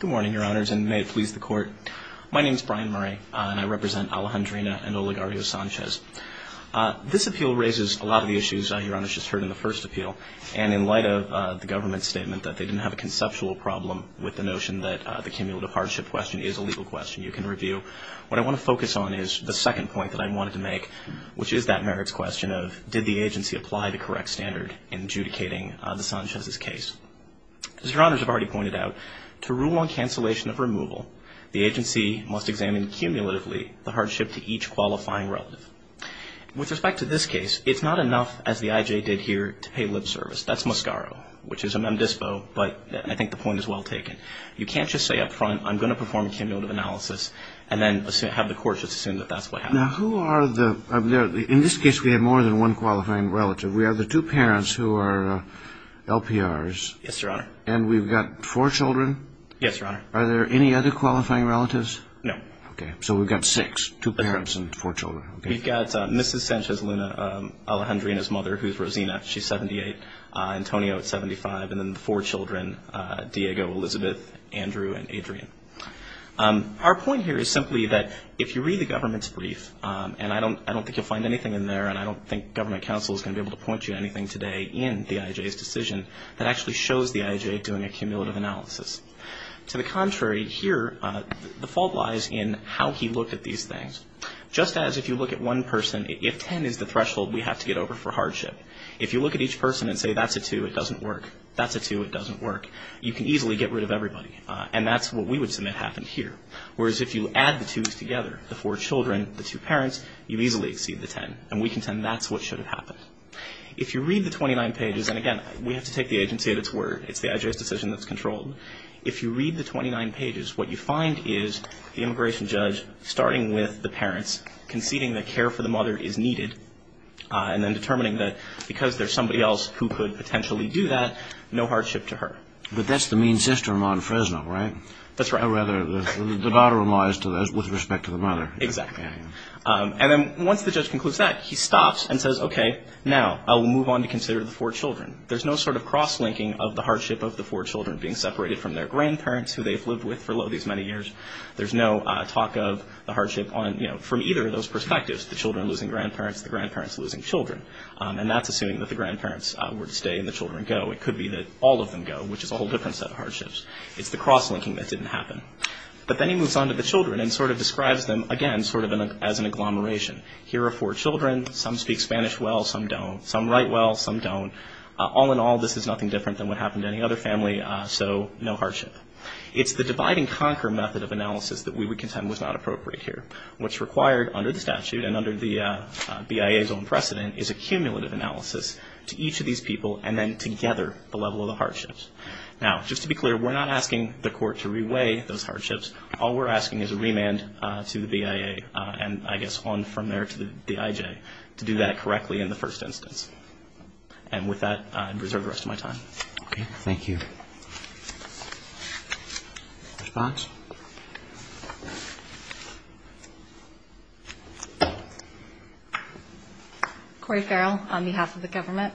Good morning, Your Honors, and may it please the Court. My name is Brian Murray, and I represent Alejandrina and Oligario Sanchez. This appeal raises a lot of the issues Your Honors just heard in the first appeal. And in light of the government's statement that they didn't have a conceptual problem with the notion that the cumulative hardship question is a legal question you can review, what I want to focus on is the second point that I wanted to make, which is that merits question of did the agency apply the correct standard in adjudicating the Sanchez's case? As Your Honors have already pointed out, to rule on cancellation of removal, the agency must examine cumulatively the hardship to each qualifying relative. With respect to this case, it's not enough, as the IJ did here, to pay lip service. That's Moscaro, which is a mem dispo, but I think the point is well taken. You can't just say up front, I'm going to perform a cumulative analysis, and then have the courts just assume that that's what happened. Now, who are the – in this case, we have more than one qualifying relative. We have the two parents who are LPRs. Yes, Your Honor. And we've got four children? Yes, Your Honor. Are there any other qualifying relatives? No. Okay. So we've got six, two parents and four children. We've got Mrs. Sanchez Luna Alejandria and his mother, who's Rosina. She's 78. Antonio is 75. And then the four children, Diego, Elizabeth, Andrew, and Adrian. Our point here is simply that if you read the government's brief, and I don't think you'll find anything in there, and I don't think government counsel is going to be able to point you to anything today in the IJ's decision that actually shows the IJ doing a cumulative analysis. To the contrary, here, the fault lies in how he looked at these things. Just as if you look at one person, if 10 is the threshold, we have to get over for hardship. If you look at each person and say, that's a 2, it doesn't work, that's a 2, it doesn't work, you can easily get rid of everybody. And that's what we would submit happened here. Whereas if you add the twos together, the four children, the two parents, you easily exceed the 10. And we contend that's what should have happened. If you read the 29 pages, and again, we have to take the agency at its word. It's the IJ's decision that's controlled. If you read the 29 pages, what you find is the immigration judge, starting with the parents, conceding that care for the mother is needed, and then determining that because there's somebody else who could potentially do that, no hardship to her. But that's the mean sister among Fresno, right? That's right. Or rather, the daughter relies to this with respect to the mother. Exactly. And then once the judge concludes that, he stops and says, okay, now, I will move on to consider the four children. There's no sort of cross-linking of the hardship of the four children being separated from their grandparents, who they've lived with for these many years. There's no talk of the hardship on, you know, from either of those perspectives, the children losing grandparents, the grandparents losing children. And that's assuming that the grandparents were to stay and the children go. It could be that all of them go, which is a whole different set of hardships. It's the cross-linking that didn't happen. But then he moves on to the children and sort of describes them, again, sort of as an agglomeration. Here are four children. Some speak Spanish well, some don't. Some write well, some don't. All in all, this is nothing different than what happened to any other family, so no hardship. It's the divide-and-conquer method of analysis that we would contend was not appropriate here, which required, under the statute and under the BIA's own precedent, is a cumulative analysis to each of these people and then together the level of the hardships. Now, just to be clear, we're not asking the court to re-weigh those hardships. All we're asking is a remand to the BIA, and I guess on from there to the IJ, to do that correctly in the first instance. And with that, I'd reserve the rest of my time. Thank you. Response? Corey Farrell on behalf of the government.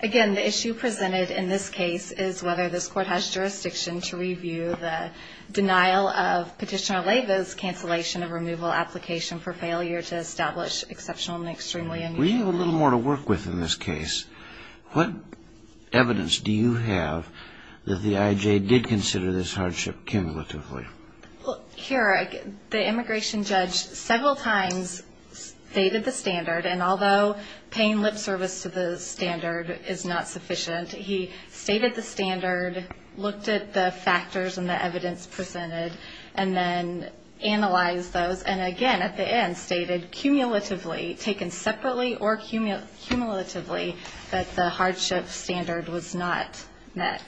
Again, the issue presented in this case is whether this court has jurisdiction to review the denial of Petitioner Leyva's cancellation of removal application for failure to establish exceptional and extremely unusual. We have a little more to work with in this case. What evidence do you have that the IJ did consider this hardship cumulatively? Well, here, the immigration judge several times stated the standard, and although paying lip service to the standard is not sufficient, he stated the standard, looked at the factors and the evidence presented, and then analyzed those, and again, at the end, stated cumulatively, taken separately or cumulatively, that the hardship standard was not met.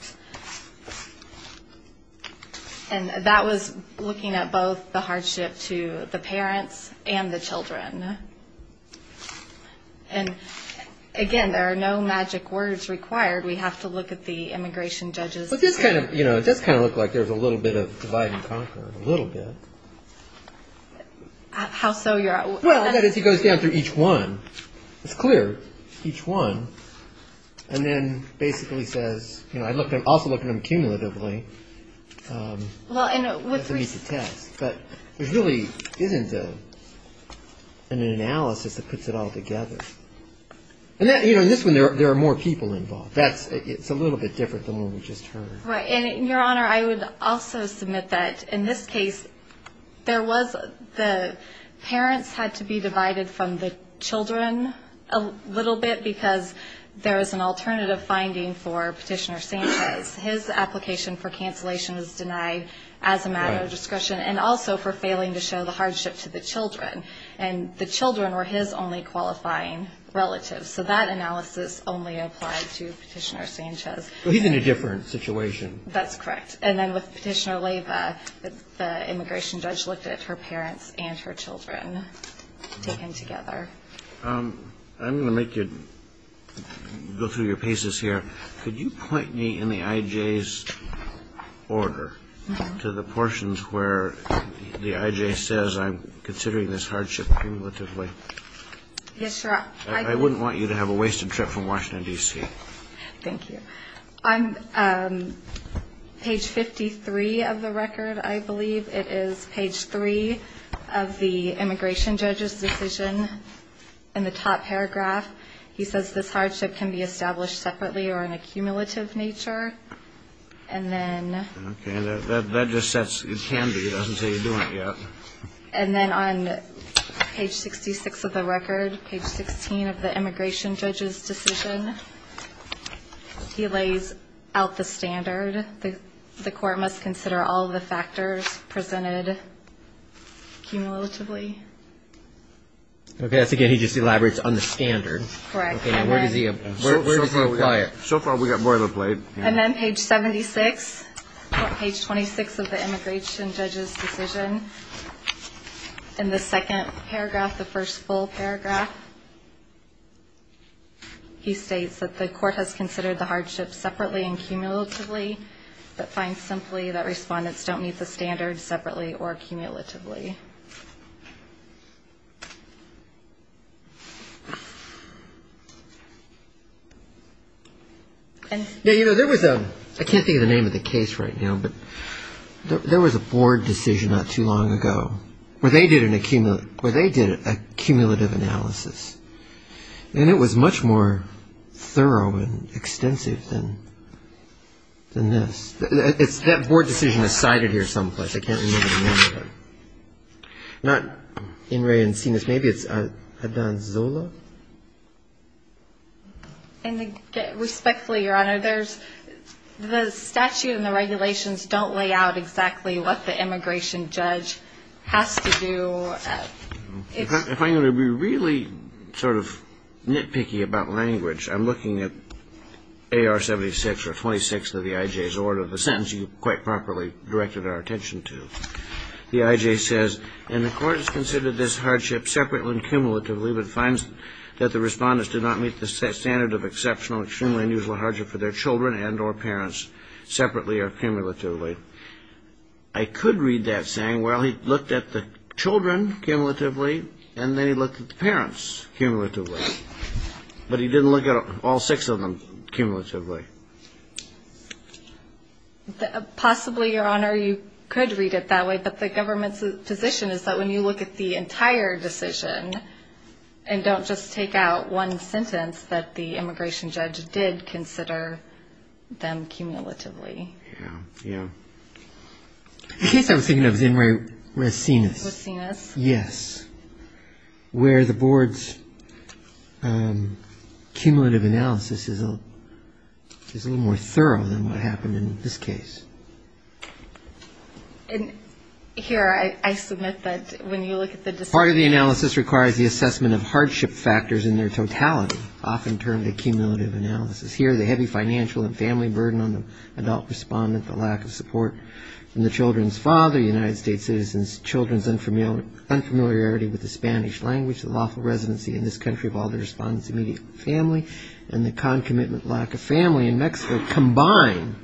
And that was looking at both the hardship to the parents and the children. And again, there are no magic words required. We have to look at the immigration judge's opinion. You know, it does kind of look like there's a little bit of divide and conquer, a little bit. How so? Well, as he goes down through each one, it's clear, each one, and then basically says, you know, I also looked at them cumulatively. But there really isn't an analysis that puts it all together. And, you know, in this one, there are more people involved. It's a little bit different than the one we just heard. Right. And, Your Honor, I would also submit that, in this case, there was the parents had to be divided from the children a little bit, because there was an alternative finding for Petitioner Sanchez. His application for cancellation was denied as a matter of discretion, and also for failing to show the hardship to the children. And the children were his only qualifying relatives. So that analysis only applied to Petitioner Sanchez. But he's in a different situation. That's correct. And then with Petitioner Leyva, the immigration judge looked at her parents and her children taken together. I'm going to make you go through your pieces here. Could you point me in the I.J.'s order to the portions where the I.J. says I'm considering this hardship cumulatively? Yes, Your Honor. I wouldn't want you to have a wasted trip from Washington, D.C. Thank you. On page 53 of the record, I believe, it is page 3 of the immigration judge's decision. In the top paragraph, he says this hardship can be established separately or in a cumulative nature. And then... Okay. And that just says it can be. It doesn't say you're doing it yet. And then on page 66 of the record, page 16 of the immigration judge's decision, he lays out the standard that the court must consider all of the factors presented cumulatively. Okay. That's again, he just elaborates on the standard. Where does he apply it? So far, we've got boilerplate. And then page 76, page 26 of the immigration judge's decision, in the second paragraph, the first full paragraph, he states that the court has considered the hardship separately and cumulatively, but finds simply that respondents don't meet the standard separately or cumulatively. I can't think of the name of the case right now, but there was a board decision not too long ago where they did a cumulative analysis. And it was much more thorough and extensive than this. That board decision is cited here someplace. I can't remember the name of it. Not Ingray and Sinas. Maybe it's Adon Zola? Respectfully, Your Honor, the statute and the regulations don't lay out exactly what the immigration judge has to do. If I'm going to be really sort of nitpicky about language, I'm looking at AR 76 or 26 of the IJ's order, the sentence you quite properly directed our attention to. The IJ says, and the court has considered this hardship separately and cumulatively, but finds that the respondents do not meet the standard of exceptional, extremely unusual hardship for their children and or parents separately or cumulatively. I could read that saying, well, he looked at the children cumulatively, and then he looked at the parents cumulatively. But he didn't look at all six of them cumulatively. Possibly, Your Honor, you could read it that way, but the government's position is that when you look at the entire decision, and don't just take out one sentence, that the immigration judge did consider them cumulatively. The case I was thinking of is in Racinus, where the board's cumulative analysis is a little more thorough than what happened in this case. And here I submit that when you look at the decision... Part of the analysis requires the assessment of hardship factors in their totality, often termed a cumulative analysis. Here, the heavy financial and family burden on the adult respondent, the lack of support from the children's father, United States citizens, children's unfamiliarity with the Spanish language, the lawful residency in this country of all the respondents' immediate family, and the concomitant lack of family in Mexico combine...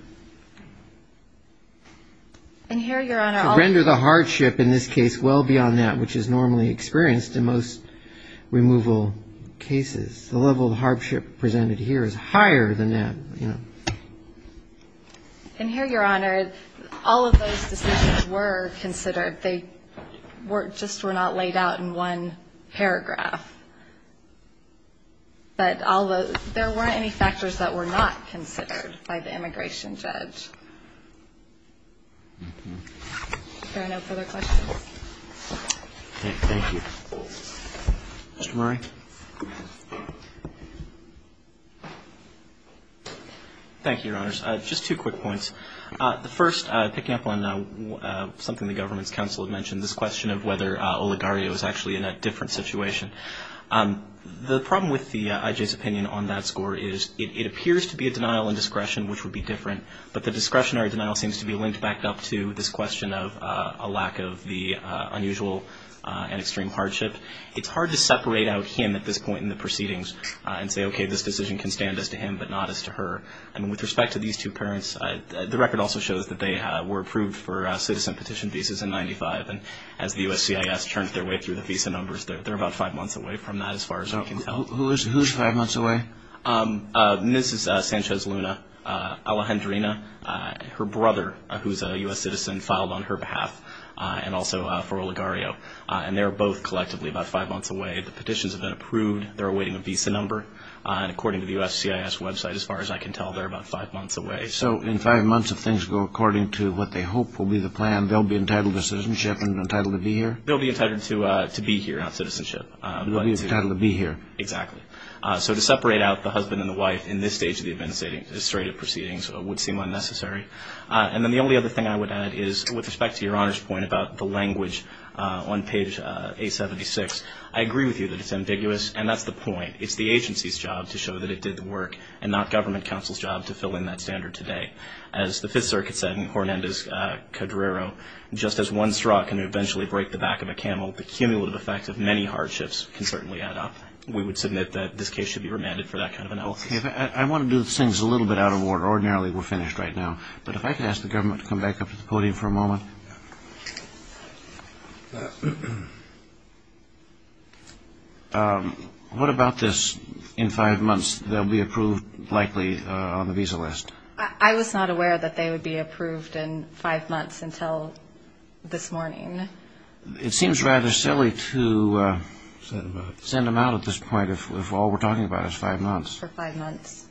And here, Your Honor, I'll... And here, Your Honor, all of those decisions were considered. They just were not laid out in one paragraph. But there weren't any factors that were not considered by the immigration judge. Are there no further questions? Thank you. Thank you, Your Honors. Just two quick points. The first, picking up on something the government's counsel had mentioned, this question of whether Oligario is actually in a different situation. The problem with the I.J.'s opinion on that score is it appears to be a denial in discretion, which would be different, but the discretionary denial seems to be linked back up to this question of a lack of the unusual and extreme hardship. It's hard to separate out him at this point in the proceedings and say, okay, this decision can stand as to him but not as to her. And with respect to these two parents, the record also shows that they were approved for citizen petition visas in 95, and as the USCIS turned their way through the visa numbers, they're about five months away from that as far as I can tell. Who's five months away? Mrs. Sanchez Luna Alejandrina, her brother, who's a U.S. citizen, filed on her behalf and also for Oligario. And they're both collectively about five months away. The petitions have been approved. They're awaiting a visa number. And according to the USCIS website, as far as I can tell, they're about five months away. So in five months, if things go according to what they hope will be the plan, they'll be entitled to citizenship and entitled to be here? They'll be entitled to be here, not citizenship. They'll be entitled to be here. Exactly. So to separate out the husband and the wife in this stage of the administrative proceedings would seem unnecessary. And then the only other thing I would add is, with respect to your Honor's point about the language on page 876, I agree with you that it's ambiguous, and that's the point. It's the agency's job to show that it did the work and not government counsel's job to fill in that standard today. As the Fifth Circuit said in Hornendez-Cadrero, just as one straw can eventually break the back of a camel, the cumulative effect of many hardships can certainly add up. We would submit that this case should be remanded for that kind of analysis. I want to do things a little bit out of order. Ordinarily, we're finished right now. But if I could ask the government to come back up to the podium for a moment. What about this, in five months they'll be approved likely on the visa list? I was not aware that they would be approved in five months until this morning. It seems rather silly to send them out at this point if all we're talking about is five months. For five months.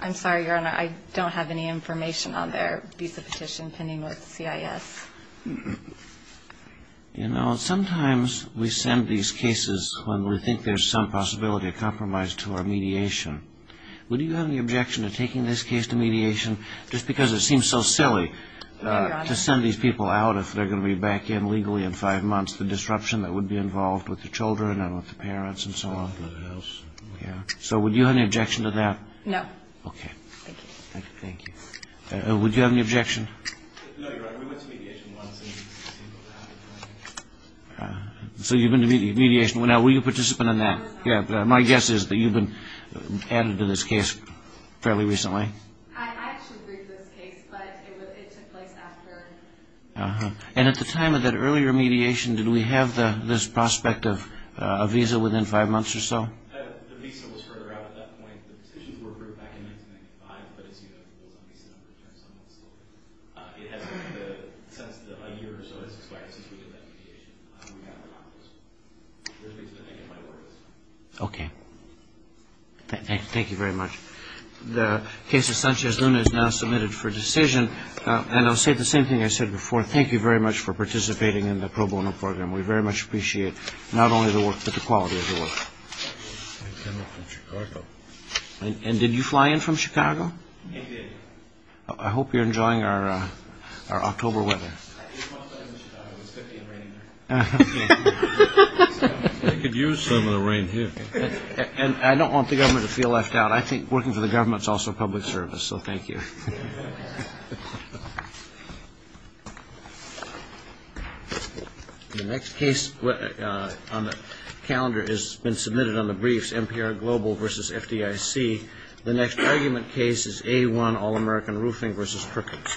I'm sorry, Your Honor, I don't have any information on their visa petition pending with the CIS. You know, sometimes we send these cases when we think there's some possibility of compromise to our mediation. Would you have any objection to taking this case to mediation just because it seems so silly to send these people out if they're going to be back in legally in five months, the disruption that would be involved with the children and with the parents and so on? So would you have any objection to that? No. Would you have any objection? So you've been to mediation. Were you a participant in that? My guess is that you've been added to this case fairly recently. I actually briefed this case, but it took place after. And at the time of that earlier mediation, did we have this prospect of a visa within five months or so? The visa was further out at that point. The petitions were approved back in 1995, but as you know, it was on visa number 10 some months later. It hasn't been since a year or so has expired since we did that mediation. Okay. Thank you very much. The case of Sanchez Luna is now submitted for decision, and I'll say the same thing I said before. Thank you very much for participating in the pro bono program. We very much appreciate not only the work, but the quality of the work. And did you fly in from Chicago? I did. I hope you're enjoying our October weather. They could use some of the rain here. And I don't want the government to feel left out. But I think working for the government is also a public service, so thank you. The next case on the calendar has been submitted on the briefs, NPR Global versus FDIC. The next argument case is A-1 All-American Roofing versus Perkins.